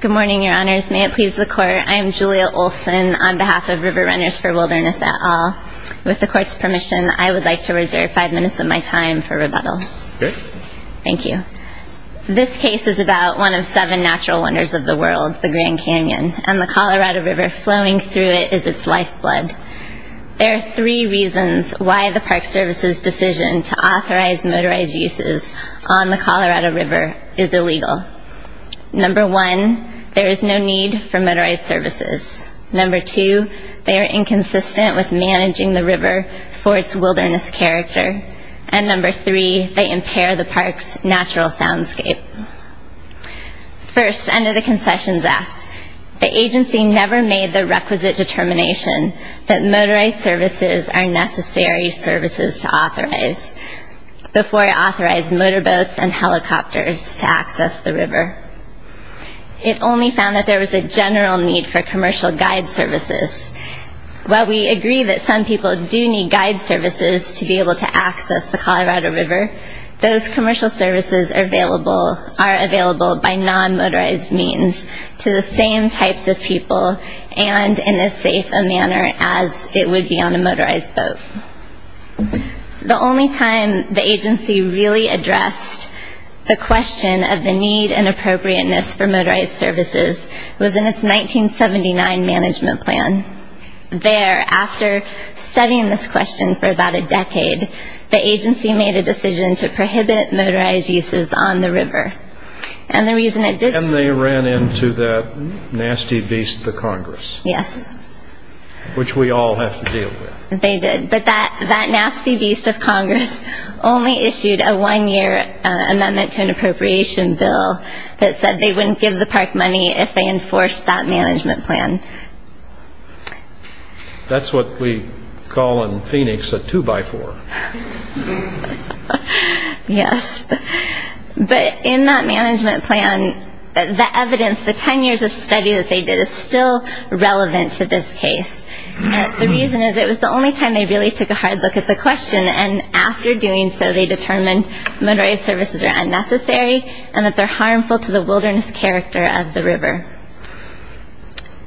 Good morning, your honors. May it please the court, I am Julia Olson on behalf of River Runners for Wilderness et al. With the court's permission, I would like to reserve five minutes of my time for rebuttal. Good. Thank you. This case is about one of seven natural wonders of the world, the Grand Canyon, and the Colorado River flowing through it is its lifeblood. There are three reasons why the Park Service's decision to authorize motorized uses on the Colorado River is illegal. Number one, there is no need for motorized services. Number two, they are inconsistent with managing the river for its wilderness character. And number three, they impair the park's natural soundscape. First, under the Concessions Act, the agency never made the requisite determination that motorized services are necessary services to authorize before it authorized motor boats and helicopters to access the river. It only found that there was a general need for commercial guide services. While we agree that some people do need guide services to be able to access the Colorado River, those commercial services are available by non-motorized means to the same types of people and in as safe a manner as it would be on a motorized boat. The only time the agency really addressed the question of the need and appropriateness for motorized services was in its 1979 management plan. There, after studying this question for about a decade, the agency made a decision to prohibit motorized uses on the river. And the reason it did so... And they ran into that nasty beast, the Congress. Yes. Which we all have to deal with. They did. But that nasty beast of Congress only issued a one-year amendment to an appropriation bill that said they wouldn't give the park money if they enforced that management plan. That's what we call in Phoenix a two-by-four. Yes. But in that management plan, the evidence, the ten years of study that they did is still the only time they really took a hard look at the question and after doing so, they determined motorized services are unnecessary and that they're harmful to the wilderness character of the river.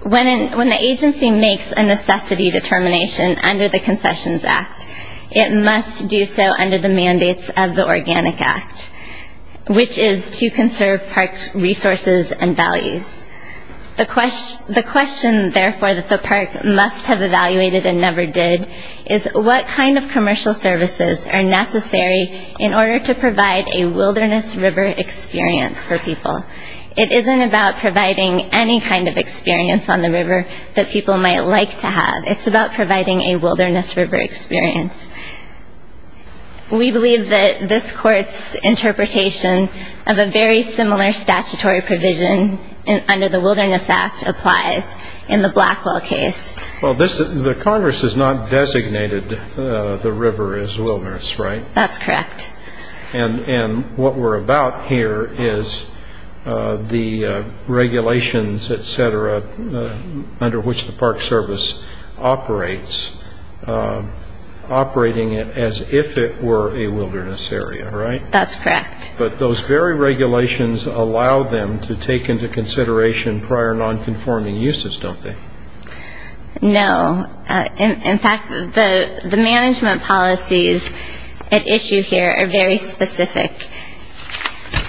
When the agency makes a necessity determination under the Concessions Act, it must do so under the mandates of the Organic Act, which is to conserve parks' resources and values. The question, therefore, that the park must have evaluated and never did is what kind of commercial services are necessary in order to provide a wilderness river experience for people? It isn't about providing any kind of experience on the river that people might like to have. It's about providing a wilderness river experience. We believe that this Court's interpretation of a very similar statutory provision under the Wilderness Act applies in the Blackwell case. Well, the Congress has not designated the river as wilderness, right? That's correct. And what we're about here is the regulations, et cetera, under which the Park Service operates operating it as if it were a wilderness area, right? That's correct. But those very regulations allow them to take into consideration prior non-conforming uses, don't they? No. In fact, the management policies at issue here are very specific.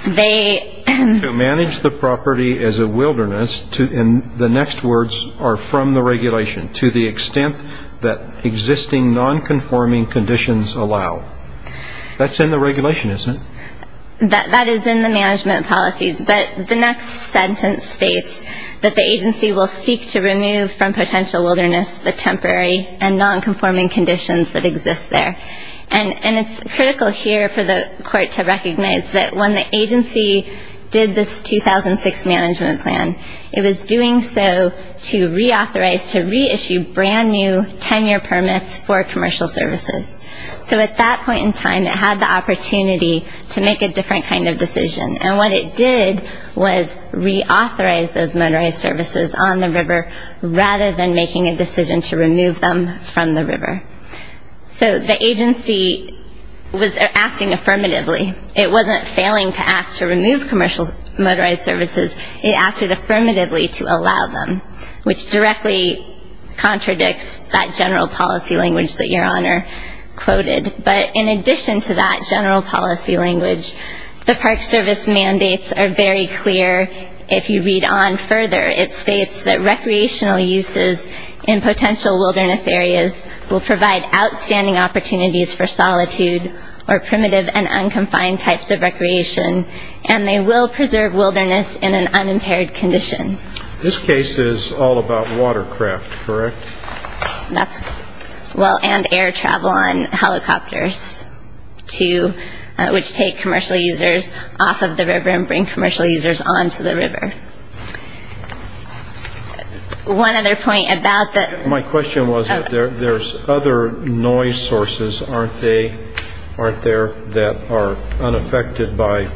To manage the property as a wilderness, in the next words, are from the regulation to the extent that existing non-conforming conditions allow. That's in the regulation, isn't it? That is in the management policies. But the next sentence states that the agency will seek to remove from potential wilderness the temporary and non-conforming conditions that exist there. And it's critical here for the Court to recognize that when the agency did this 2006 management plan, it was doing so to reauthorize, to reissue brand new 10-year permits for commercial services. So at that point in time, it had the opportunity to make a different kind of decision. And what it did was reauthorize those motorized services on the river rather than making a decision to remove them from the river. So the agency was acting affirmatively. It wasn't failing to act to remove commercial motorized services. It acted affirmatively to allow them, which directly contradicts that general policy language that Your Honor quoted. But in addition to that general policy language, the Park Service mandates are very clear. If you read on further, it states that recreational uses in potential wilderness areas will provide outstanding opportunities for solitude or primitive and unconfined types of recreation, and they will preserve wilderness in an unimpaired condition. This case is all about watercraft, correct? That's well, and air travel on helicopters, too, which take commercial users off of the river and bring commercial users on to the river. One other point about that. My question was that there's other noise sources, aren't there, that are unaffected by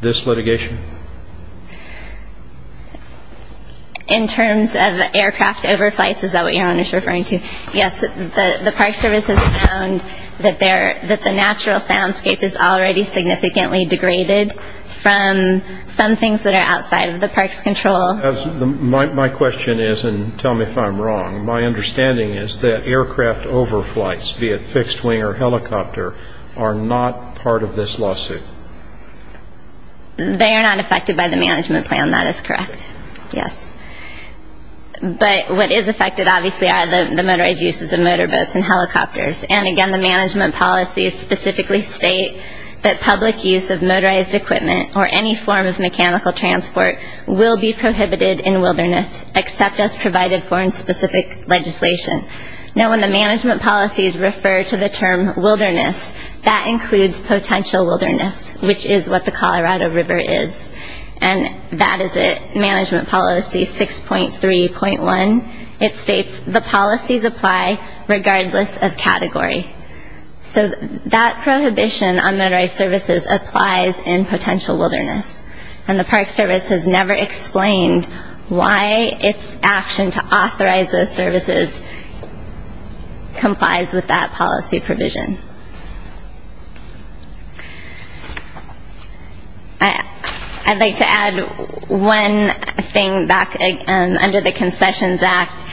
this litigation? In terms of aircraft overflights, is that what Your Honor is referring to? Yes, the Park Service has found that the natural soundscape is already significantly degraded from some things that are outside of the Park's control. My question is, and tell me if I'm wrong, my understanding is that aircraft overflights, be it fixed-wing or helicopter, are not part of this lawsuit. They are not affected by the management plan. That is correct, yes. But what is affected, obviously, are the motorized uses of motor boats and helicopters. And again, the management policies specifically state that public use of motorized equipment or any form of mechanical transport will be prohibited in wilderness except as provided for in specific legislation. Now, when the management policies refer to the term wilderness, that includes potential wilderness, which is what the Colorado River is. And that is in Management Policy 6.3.1. It states, the policies apply regardless of category. So that prohibition on motorized services applies in potential wilderness. And the Park Service has never explained why its action to authorize those services complies with that policy provision. I'd like to add one thing back under the Concessions Act,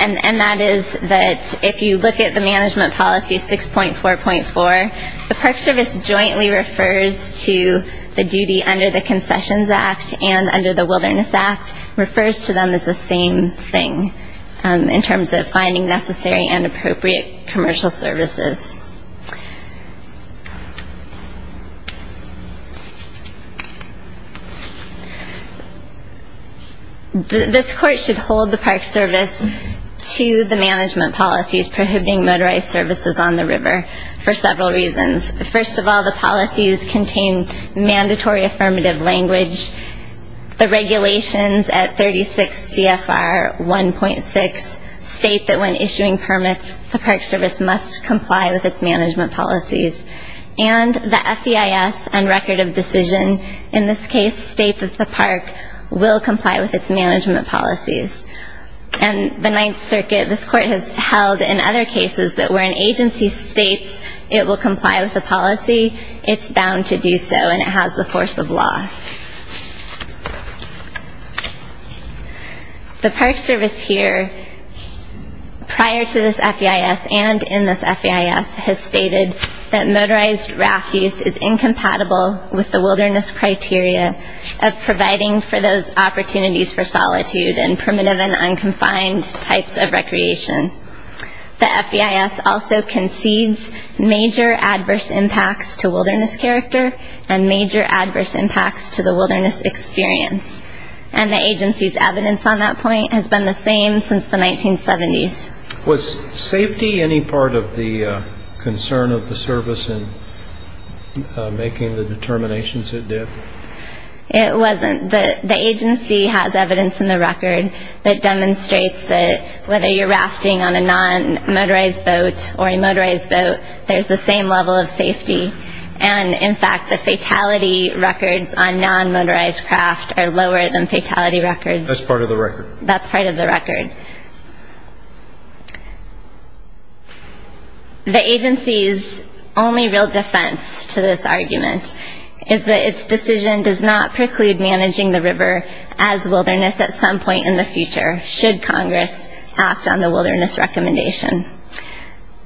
and that is that if you look at the Management Policy 6.4.4, the Park Service jointly refers to the duty under the Concessions Act and under the Wilderness Act, refers to them as the same thing in terms of finding necessary and appropriate commercial services. This Court should hold the Park Service to the Management Policies prohibiting motorized services on the river for several reasons. First of all, the policies contain mandatory affirmative language. The regulations at 36 CFR 1.6 state that when issuing permits, the Park Service must comply with its Management Policies. And the FEIS and Record of Decision, in this case State of the Park, will comply with its Management Policies. And the Ninth Circuit, this Court has held in other cases that where an agency states it will comply with the policy, it's bound to do so, and it has the force of law. The Park Service here, prior to this FEIS and in this FEIS, has stated that motorized raft use is incompatible with the wilderness criteria of providing for those opportunities for solitude and primitive and unconfined types of recreation. The FEIS also concedes major adverse impacts to wilderness character and major adverse impacts to the wilderness experience. And the agency's evidence on that point has been the same since the 1970s. Was safety any part of the concern of the service in making the determinations it did? It wasn't. The agency has evidence in the record that demonstrates that whether you're rafting on a non-motorized boat or a motorized boat, there's the same level of safety. And, in fact, the fatality records on non-motorized craft are lower than fatality records. That's part of the record? That's part of the record. The agency's only real defense to this argument is that its decision does not preclude managing the river as wilderness at some point in the future, should Congress act on the wilderness recommendation.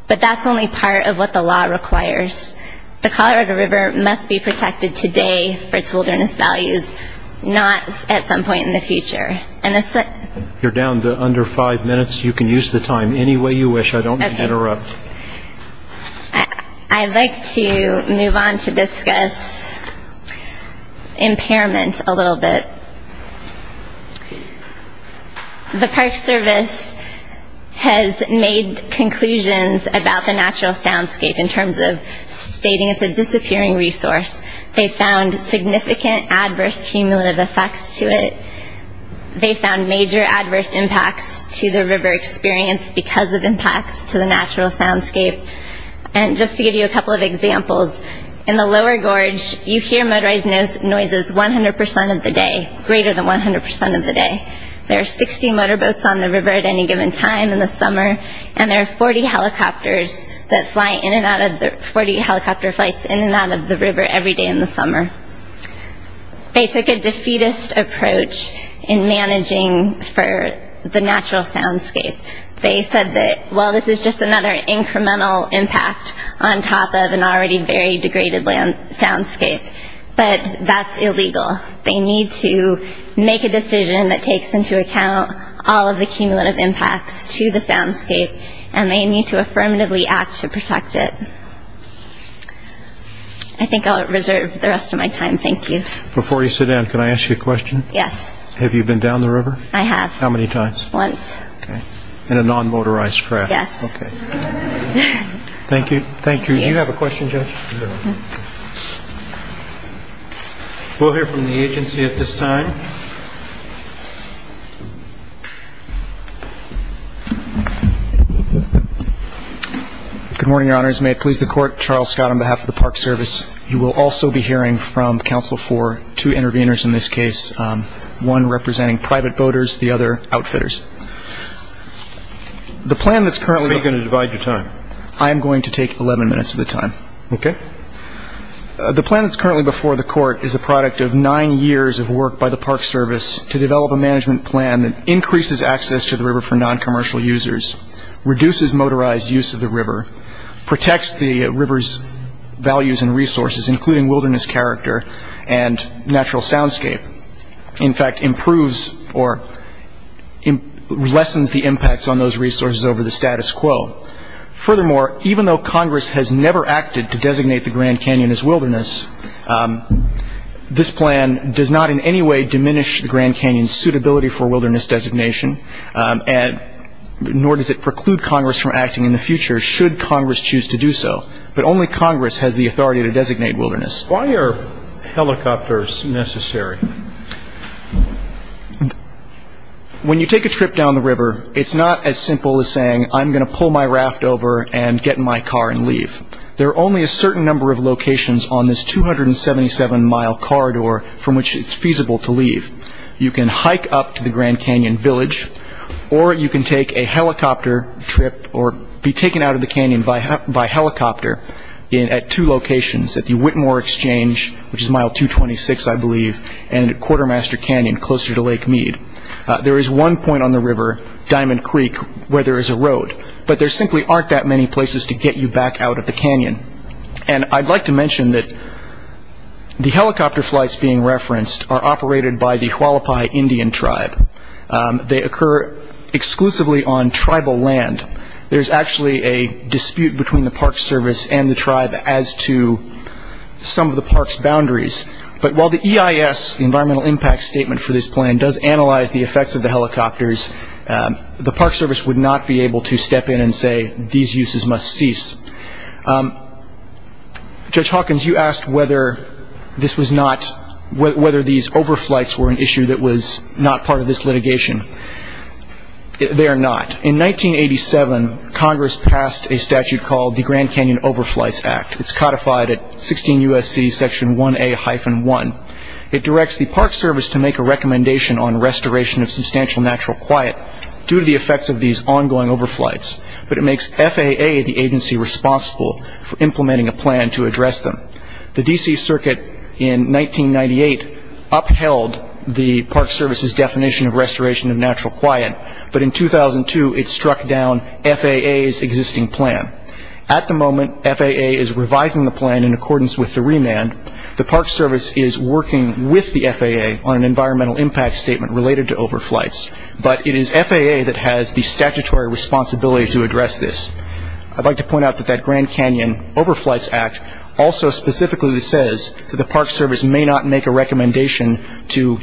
But that's only part of what the law requires. The Colorado River must be protected today for its wilderness values, not at some point in the future. You're down to under five minutes. You can use the time any way you wish. I don't mean to interrupt. I'd like to move on to discuss impairment a little bit. The Park Service has made conclusions about the natural soundscape in terms of stating it's a disappearing resource. They found significant adverse cumulative effects to it. They found major adverse impacts to the river experience because of impacts to the natural soundscape. And just to give you a couple of examples, in the lower gorge, you hear motorized noises 100% of the day, greater than 100% of the day. There are 60 motorboats on the river at any given time in the summer, and there are 40 helicopters that fly in and out of the river every day in the summer. They took a defeatist approach in managing the natural soundscape. They said that, well, this is just another incremental impact on top of an already very degraded soundscape, but that's illegal. They need to make a decision that takes into account all of the cumulative impacts to the soundscape, and they need to affirmatively act to protect it. I think I'll reserve the rest of my time. Thank you. Before you sit down, can I ask you a question? Yes. Have you been down the river? I have. How many times? Once. In a non-motorized craft? Yes. Okay. Thank you. Thank you. Do you have a question, Judge? No. We'll hear from the agency at this time. Good morning, Your Honors. May it please the Court, Charles Scott on behalf of the Park Service. You will also be hearing from counsel for two interveners in this case, one representing private boaters, the other outfitters. The plan that's currently... How are you going to divide your time? I am going to take 11 minutes of the time. Okay. The plan that's currently before the Court is the product of nine years of work by the Park Service to develop a management plan that increases access to the river for non-commercial users, reduces motorized use of the river, protects the river's values and resources, including wilderness character and natural soundscape, in fact, improves or lessens the impacts on those resources over the status quo. Furthermore, even though Congress has never acted to designate the Grand Canyon as wilderness, this plan does not in any way diminish the Grand Canyon's suitability for wilderness designation, nor does it preclude Congress from acting in the future, should Congress choose to do so. But only Congress has the authority to designate wilderness. Why are helicopters necessary? When you take a trip down the river, it's not as simple as saying, I'm going to pull my raft over and get in my car and leave. There are only a certain number of locations on this 277-mile corridor from which it's feasible to leave. You can hike up to the Grand Canyon village, or you can take a helicopter trip or be taken out of the canyon by helicopter at two locations, at the Whitmore Exchange, which is mile 226, I believe, and at Quartermaster Canyon, closer to Lake Mead. There is one point on the river, Diamond Creek, where there is a road, but there simply aren't that many places to get you back out of the canyon. And I'd like to mention that the helicopter flights being referenced are operated by the Hualapai Indian tribe. They occur exclusively on tribal land. There's actually a dispute between the Park Service and the tribe as to some of the park's boundaries. But while the EIS, the Environmental Impact Statement for this plan, does analyze the effects of the helicopters, the Park Service would not be able to step in and say, these uses must cease. Judge Hawkins, you asked whether this was not, whether these overflights were an issue that was not part of this litigation. They are not. In 1987, Congress passed a statute called the Grand Canyon Overflights Act. It's codified at 16 U.S.C. Section 1A-1. It directs the Park Service to make a recommendation on restoration of substantial natural quiet due to the effects of these ongoing overflights, but it makes FAA the agency responsible for implementing a plan to address them. The D.C. Circuit in 1998 upheld the Park Service's definition of restoration of natural quiet, but in 2002 it struck down FAA's existing plan. At the moment, FAA is revising the plan in accordance with the remand. The Park Service is working with the FAA on an Environmental Impact Statement related to overflights, but it is FAA that has the statutory responsibility to address this. I'd like to point out that that Grand Canyon Overflights Act also specifically says that the Park Service may not make a recommendation to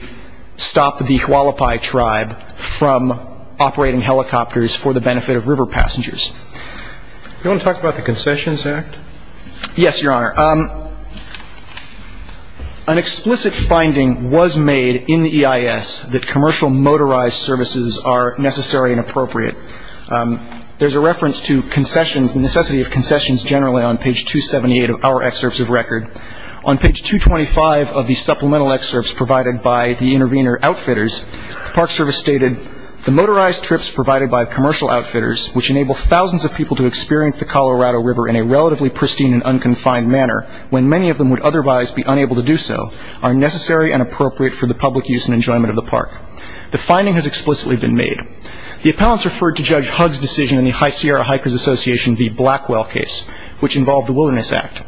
stop the Hualapai Tribe from operating helicopters for the benefit of river passengers. Do you want to talk about the Concessions Act? Yes, Your Honor. An explicit finding was made in the EIS that commercial motorized services are necessary and appropriate. There's a reference to concessions, the necessity of concessions generally on page 278 of our excerpts of record. On page 225 of the supplemental excerpts provided by the intervener outfitters, the Park Service stated, the motorized trips provided by commercial outfitters, which enable thousands of people to experience the Colorado River in a relatively pristine and unconfined manner when many of them would otherwise be unable to do so, are necessary and appropriate for the public use and enjoyment of the park. The finding has explicitly been made. The appellants referred to Judge Hugg's decision in the High Sierra Hikers Association v. Blackwell case, which involved the Wilderness Act.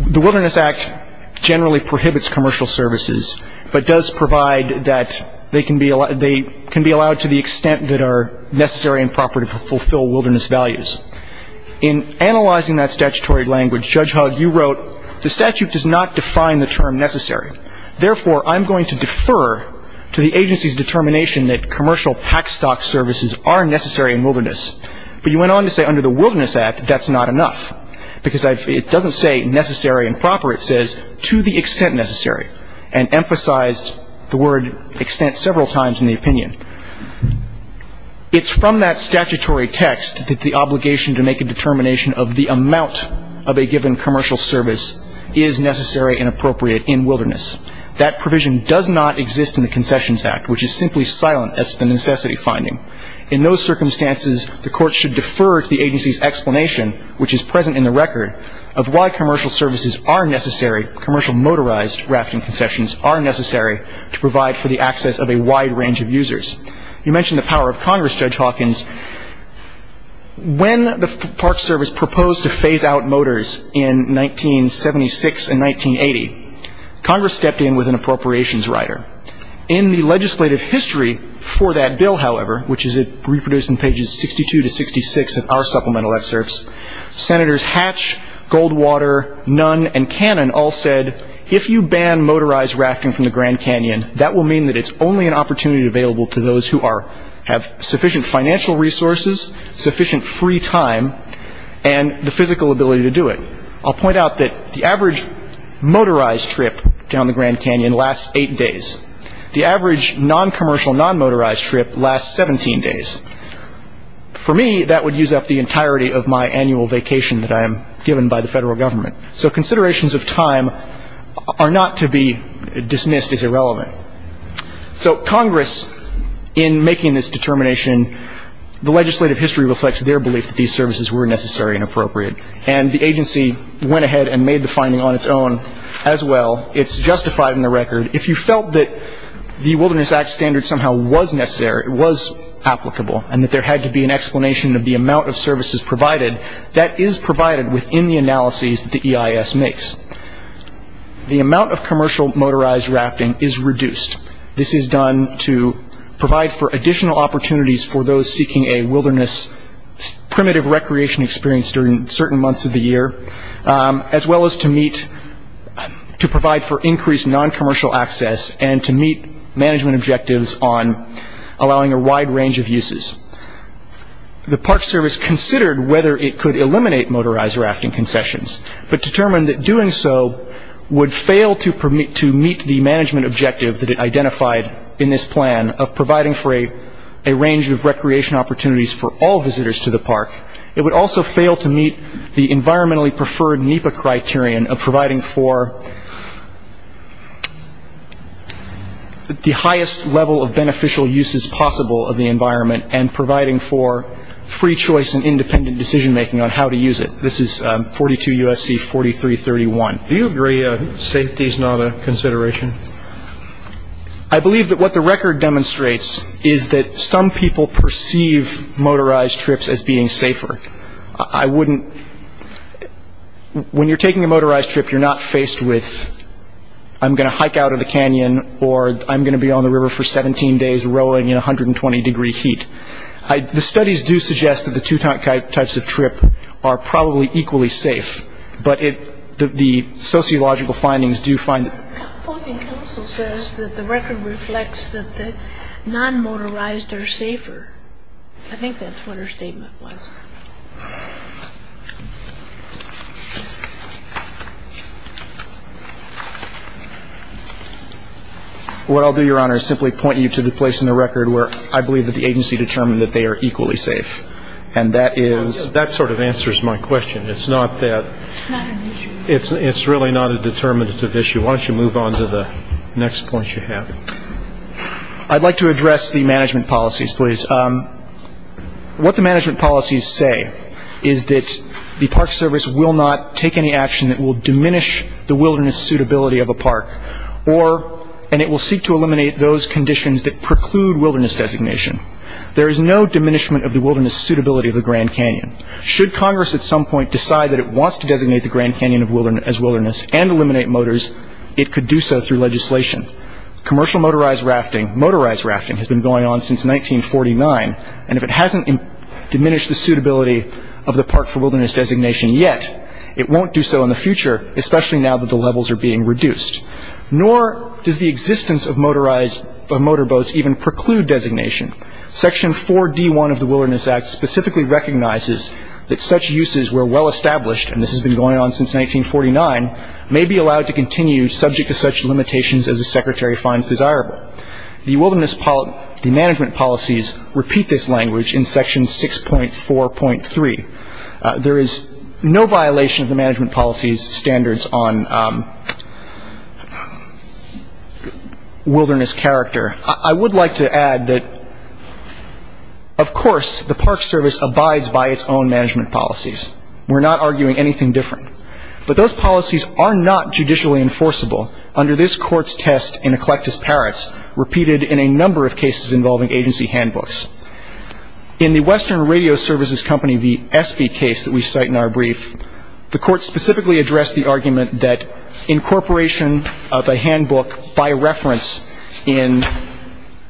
The Wilderness Act generally prohibits commercial services, but does provide that they can be allowed to the extent that are necessary and proper to fulfill wilderness values. In analyzing that statutory language, Judge Hugg, you wrote, the statute does not define the term necessary. Therefore, I'm going to defer to the agency's determination that commercial pack stock services are necessary in wilderness. But you went on to say under the Wilderness Act, that's not enough, because it doesn't say necessary and proper. It says, to the extent necessary, and emphasized the word extent several times in the opinion. It's from that statutory text that the obligation to make a determination of the amount of a given commercial service is necessary and appropriate in wilderness. That provision does not exist in the Concessions Act, which is simply silent as to the necessity finding. In those circumstances, the court should defer to the agency's explanation, which is present in the record, of why commercial services are necessary, commercial motorized rafting concessions are necessary, to provide for the access of a wide range of users. You mentioned the power of Congress, Judge Hawkins. When the Park Service proposed to phase out motors in 1976 and 1980, Congress stepped in with an appropriations rider. In the legislative history for that bill, however, which is reproduced in pages 62 to 66 of our supplemental excerpts, Senators Hatch, Goldwater, Nunn, and Cannon all said, if you ban motorized rafting from the Grand Canyon, that will mean that it's only an opportunity available to those who have sufficient financial resources, sufficient free time, and the physical ability to do it. I'll point out that the average motorized trip down the Grand Canyon lasts eight days. The average non-commercial, non-motorized trip lasts 17 days. For me, that would use up the entirety of my annual vacation that I am given by the federal government. So considerations of time are not to be dismissed as irrelevant. So Congress, in making this determination, the legislative history reflects their belief that these services were necessary and appropriate, and the agency went ahead and made the finding on its own as well. It's justified in the record. If you felt that the Wilderness Act standard somehow was necessary, it was applicable, and that there had to be an explanation of the amount of services provided, that is provided within the analyses that the EIS makes. The amount of commercial motorized rafting is reduced. This is done to provide for additional opportunities for those seeking a wilderness, primitive recreation experience during certain months of the year, as well as to provide for increased non-commercial access and to meet management objectives on allowing a wide range of uses. The Park Service considered whether it could eliminate motorized rafting concessions, but determined that doing so would fail to meet the management objective that it identified in this plan of providing for a range of recreation opportunities for all visitors to the park. It would also fail to meet the environmentally preferred NEPA criterion of providing for the highest level of beneficial uses possible of the environment and providing for free choice and independent decision making on how to use it. This is 42 U.S.C. 4331. Do you agree safety is not a consideration? I believe that what the record demonstrates is that some people perceive motorized trips as being safer. I wouldn't – when you're taking a motorized trip, you're not faced with I'm going to hike out of the canyon or I'm going to be on the river for 17 days rowing in 120 degree heat. The studies do suggest that the two types of trip are probably equally safe, but the sociological findings do find – The opposing counsel says that the record reflects that the non-motorized are safer. I think that's what her statement was. What I'll do, Your Honor, is simply point you to the place in the record where I believe that the agency determined that they are equally safe. And that is – That sort of answers my question. It's not that – It's not an issue. It's really not a determinative issue. Why don't you move on to the next points you have. I'd like to address the management policies, please. What the management policies say is that the Park Service will not take any action that will diminish the wilderness suitability of a park and it will seek to eliminate those conditions that preclude wilderness designation. There is no diminishment of the wilderness suitability of the Grand Canyon. Should Congress at some point decide that it wants to designate the Grand Canyon as wilderness and eliminate motors, it could do so through legislation. Commercial motorized rafting, motorized rafting, has been going on since 1949, and if it hasn't diminished the suitability of the park for wilderness designation yet, it won't do so in the future, especially now that the levels are being reduced. Nor does the existence of motorized – of motorboats even preclude designation. Section 4D1 of the Wilderness Act specifically recognizes that such uses were well-established and this has been going on since 1949, may be allowed to continue subject to such limitations as the Secretary finds desirable. The management policies repeat this language in Section 6.4.3. There is no violation of the management policies standards on wilderness character. I would like to add that, of course, the Park Service abides by its own management policies. We're not arguing anything different. But those policies are not judicially enforceable under this Court's test in Eclectus-Parrots, repeated in a number of cases involving agency handbooks. In the Western Radio Services Company v. Espy case that we cite in our brief, the Court specifically addressed the argument that incorporation of a handbook by reference in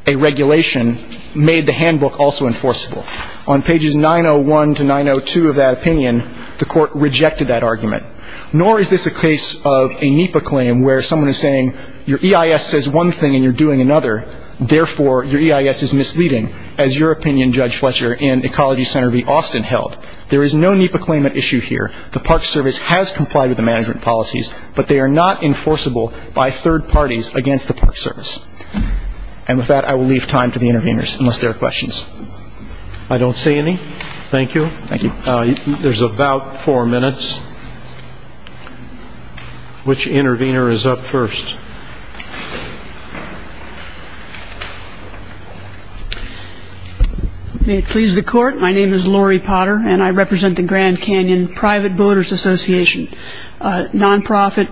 a regulation made the handbook also enforceable. On pages 901 to 902 of that opinion, the Court rejected that argument. Nor is this a case of a NEPA claim where someone is saying your EIS says one thing and you're doing another, therefore, your EIS is misleading, as your opinion, Judge Fletcher, in Ecology Center v. Austin held. There is no NEPA claim at issue here. The Park Service has complied with the management policies, but they are not enforceable by third parties against the Park Service. And with that, I will leave time to the interveners, unless there are questions. I don't see any. Thank you. Thank you. There's about four minutes. Which intervener is up first? May it please the Court, my name is Lori Potter, and I represent the Grand Canyon Private Voters Association, a non-profit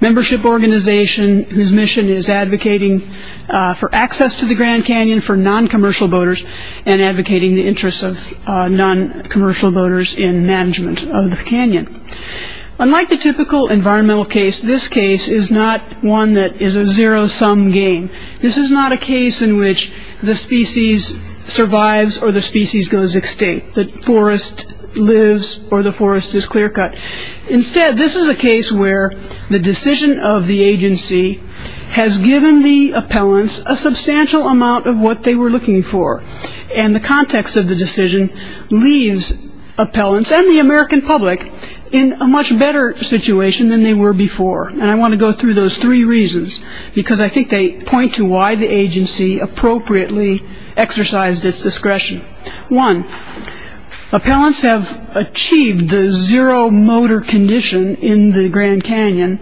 membership organization whose mission is advocating for access to the Grand Canyon for non-commercial voters and advocating the interests of non-commercial voters in management of the canyon. Unlike the typical environmental case, this case is not one that is a zero-sum game. This is not a case in which the species survives or the species goes extinct, the forest lives or the forest is clear-cut. Instead, this is a case where the decision of the agency has given the appellants a substantial amount of what they were looking for, and the context of the decision leaves appellants and the American public in a much better situation than they were before. And I want to go through those three reasons, because I think they point to why the agency appropriately exercised its discretion. One, appellants have achieved the zero motor condition in the Grand Canyon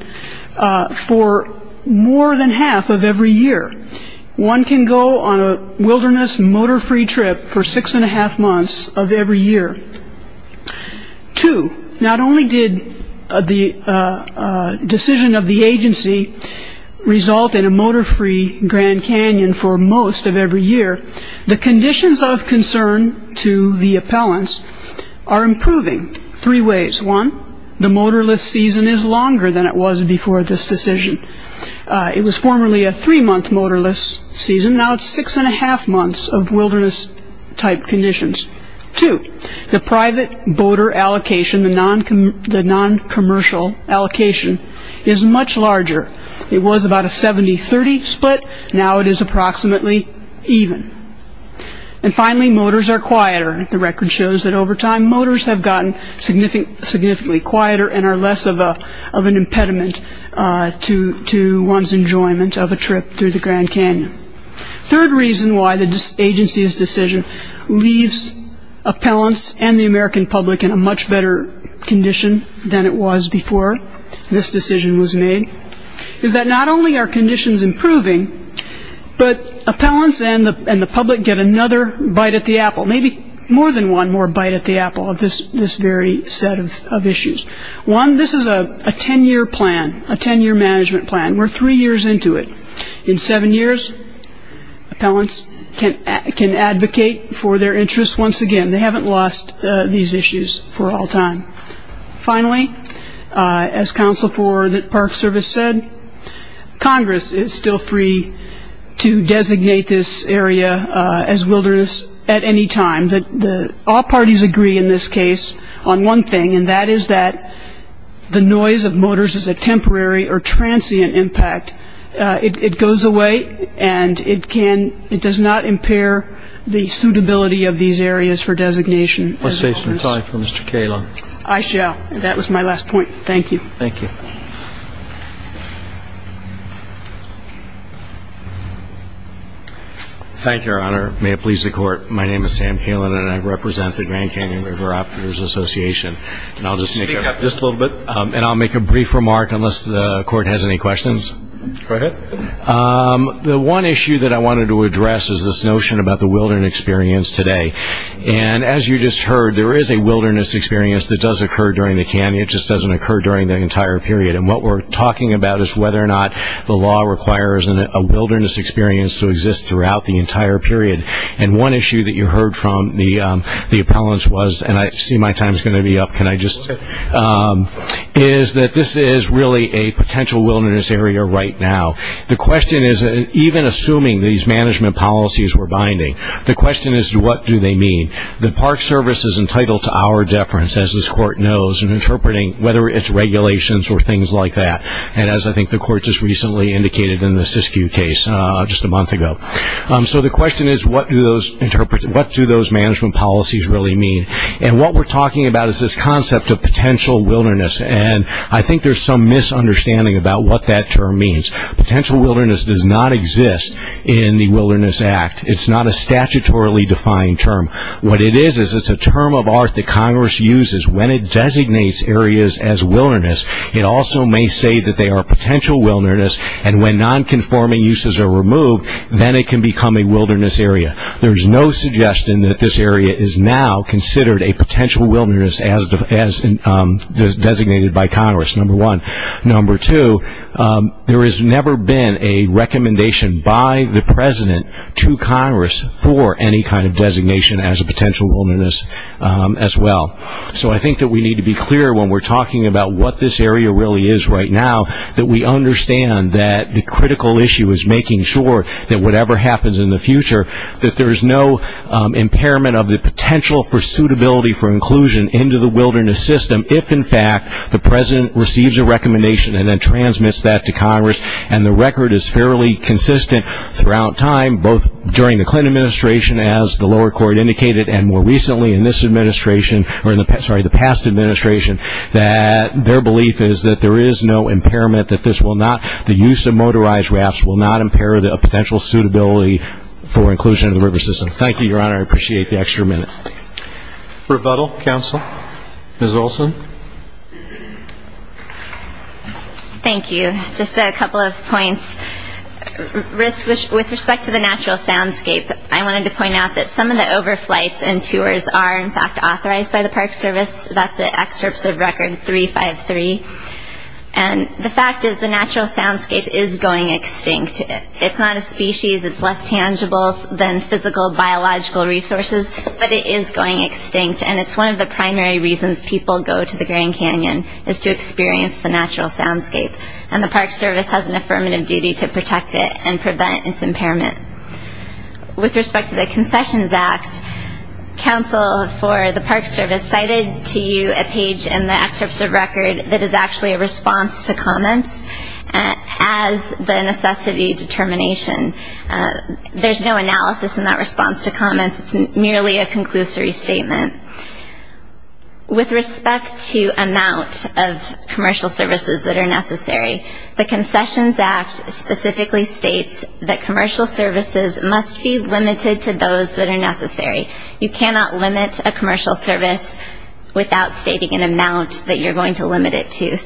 for more than half of every year. One can go on a wilderness motor-free trip for six and a half months of every year. Two, not only did the decision of the agency result in a motor-free Grand Canyon for most of every year, the conditions of concern to the appellants are improving three ways. One, the motorless season is longer than it was before this decision. It was formerly a three-month motorless season. Now it's six and a half months of wilderness-type conditions. Two, the private voter allocation, the non-commercial allocation, is much larger. It was about a 70-30 split. Now it is approximately even. And finally, motors are quieter. The record shows that over time motors have gotten significantly quieter and are less of an impediment to one's enjoyment of a trip through the Grand Canyon. Third reason why the agency's decision leaves appellants and the American public in a much better condition than it was before this decision was made is that not only are conditions improving, but appellants and the public get another bite at the apple, maybe more than one more bite at the apple of this very set of issues. One, this is a ten-year plan, a ten-year management plan. We're three years into it. In seven years, appellants can advocate for their interests once again. They haven't lost these issues for all time. Finally, as Council for the Park Service said, Congress is still free to designate this area as wilderness at any time. All parties agree in this case on one thing, and that is that the noise of motors is a temporary or transient impact. It goes away, and it does not impair the suitability of these areas for designation. Let's say some time for Mr. Kalin. I shall. That was my last point. Thank you. Thank you. Thank you, Your Honor. May it please the Court. My name is Sam Kalin, and I represent the Grand Canyon River Operators Association. I'll just make up just a little bit, and I'll make a brief remark unless the Court has any questions. Go ahead. The one issue that I wanted to address is this notion about the wilderness experience today. And as you just heard, there is a wilderness experience that does occur during the canyon. It just doesn't occur during the entire period. And what we're talking about is whether or not the law requires a wilderness experience to exist throughout the entire period. And one issue that you heard from the appellants was, and I see my time is going to be up. Can I just? Okay. Is that this is really a potential wilderness area right now. The question is, even assuming these management policies were binding, the question is, what do they mean? The Park Service is entitled to our deference, as this Court knows, in interpreting whether it's regulations or things like that. And as I think the Court just recently indicated in the Siskiyou case just a month ago. So the question is, what do those management policies really mean? And what we're talking about is this concept of potential wilderness. And I think there's some misunderstanding about what that term means. Potential wilderness does not exist in the Wilderness Act. It's not a statutorily defined term. What it is is it's a term of art that Congress uses when it designates areas as wilderness. It also may say that they are potential wilderness. And when nonconforming uses are removed, then it can become a wilderness area. There's no suggestion that this area is now considered a potential wilderness as designated by Congress, number one. Number two, there has never been a recommendation by the President to Congress for any kind of designation as a potential wilderness as well. So I think that we need to be clear when we're talking about what this area really is right now, that we understand that the critical issue is making sure that whatever happens in the future, that there's no impairment of the potential for suitability for inclusion into the wilderness system if in fact the President receives a recommendation and then transmits that to Congress and the record is fairly consistent throughout time, both during the Clinton administration, as the lower court indicated, and more recently in this administration, or in the past administration, that their belief is that there is no impairment, that the use of motorized rafts will not impair the potential suitability for inclusion in the river system. Thank you, Your Honor. I appreciate the extra minute. Rebuttal? Counsel? Ms. Olson? Thank you. Just a couple of points. With respect to the natural soundscape, I wanted to point out that some of the overflights and tours are in fact authorized by the Park Service. That's at Excerpts of Record 353. And the fact is the natural soundscape is going extinct. It's not a species, it's less tangible than physical, biological resources, but it is going extinct, and it's one of the primary reasons people go to the Grand Canyon, is to experience the natural soundscape. And the Park Service has an affirmative duty to protect it and prevent its impairment. With respect to the Concessions Act, counsel for the Park Service cited to you a page in the Excerpts of Record that is actually a response to comments as the necessity determination. There's no analysis in that response to comments. It's merely a conclusory statement. With respect to amount of commercial services that are necessary, the Concessions Act specifically states that commercial services must be limited to those that are necessary. You cannot limit a commercial service without stating an amount that you're going to limit it to.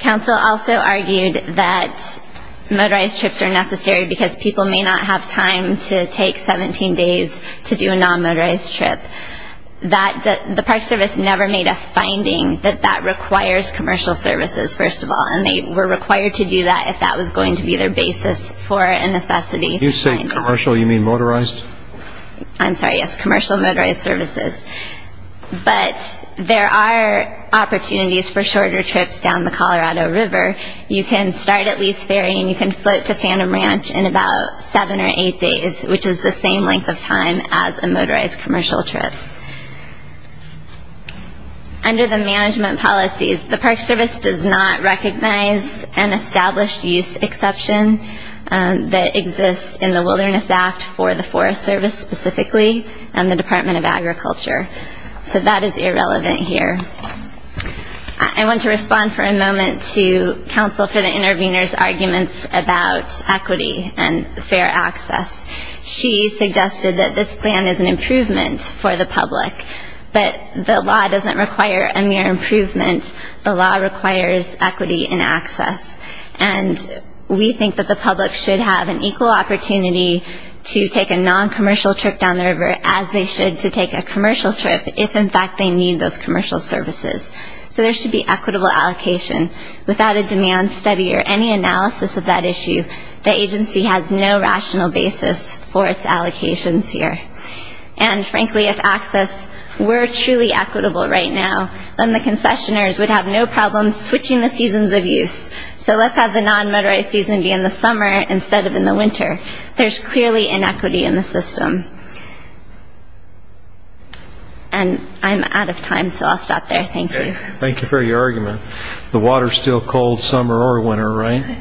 Counsel also argued that motorized trips are necessary because people may not have time to take 17 days to do a non-motorized trip. The Park Service never made a finding that that requires commercial services, first of all, and they were required to do that if that was going to be their basis for a necessity finding. When you say commercial, you mean motorized? I'm sorry, yes, commercial motorized services. But there are opportunities for shorter trips down the Colorado River. You can start at Lee's Ferry and you can float to Phantom Ranch in about 7 or 8 days, which is the same length of time as a motorized commercial trip. Under the management policies, the Park Service does not recognize an established use exception that exists in the Wilderness Act for the Forest Service specifically and the Department of Agriculture. So that is irrelevant here. I want to respond for a moment to Counsel for the Intervenors' arguments about equity and fair access. She suggested that this plan is an improvement for the public, but the law doesn't require a mere improvement. The law requires equity and access. And we think that the public should have an equal opportunity to take a non-commercial trip down the river as they should to take a commercial trip if, in fact, they need those commercial services. So there should be equitable allocation. Without a demand study or any analysis of that issue, the agency has no rational basis for its allocations here. And frankly, if access were truly equitable right now, then the concessioners would have no problem switching the seasons of use. So let's have the non-motorized season be in the summer instead of in the winter. There's clearly inequity in the system. And I'm out of time, so I'll stop there. Thank you. Thank you for your argument. The water's still cold summer or winter, right?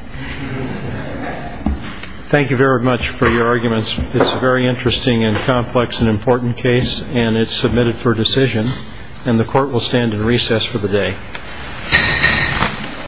Thank you very much for your arguments. It's a very interesting and complex and important case, and it's submitted for decision. And the Court will stand in recess for the day.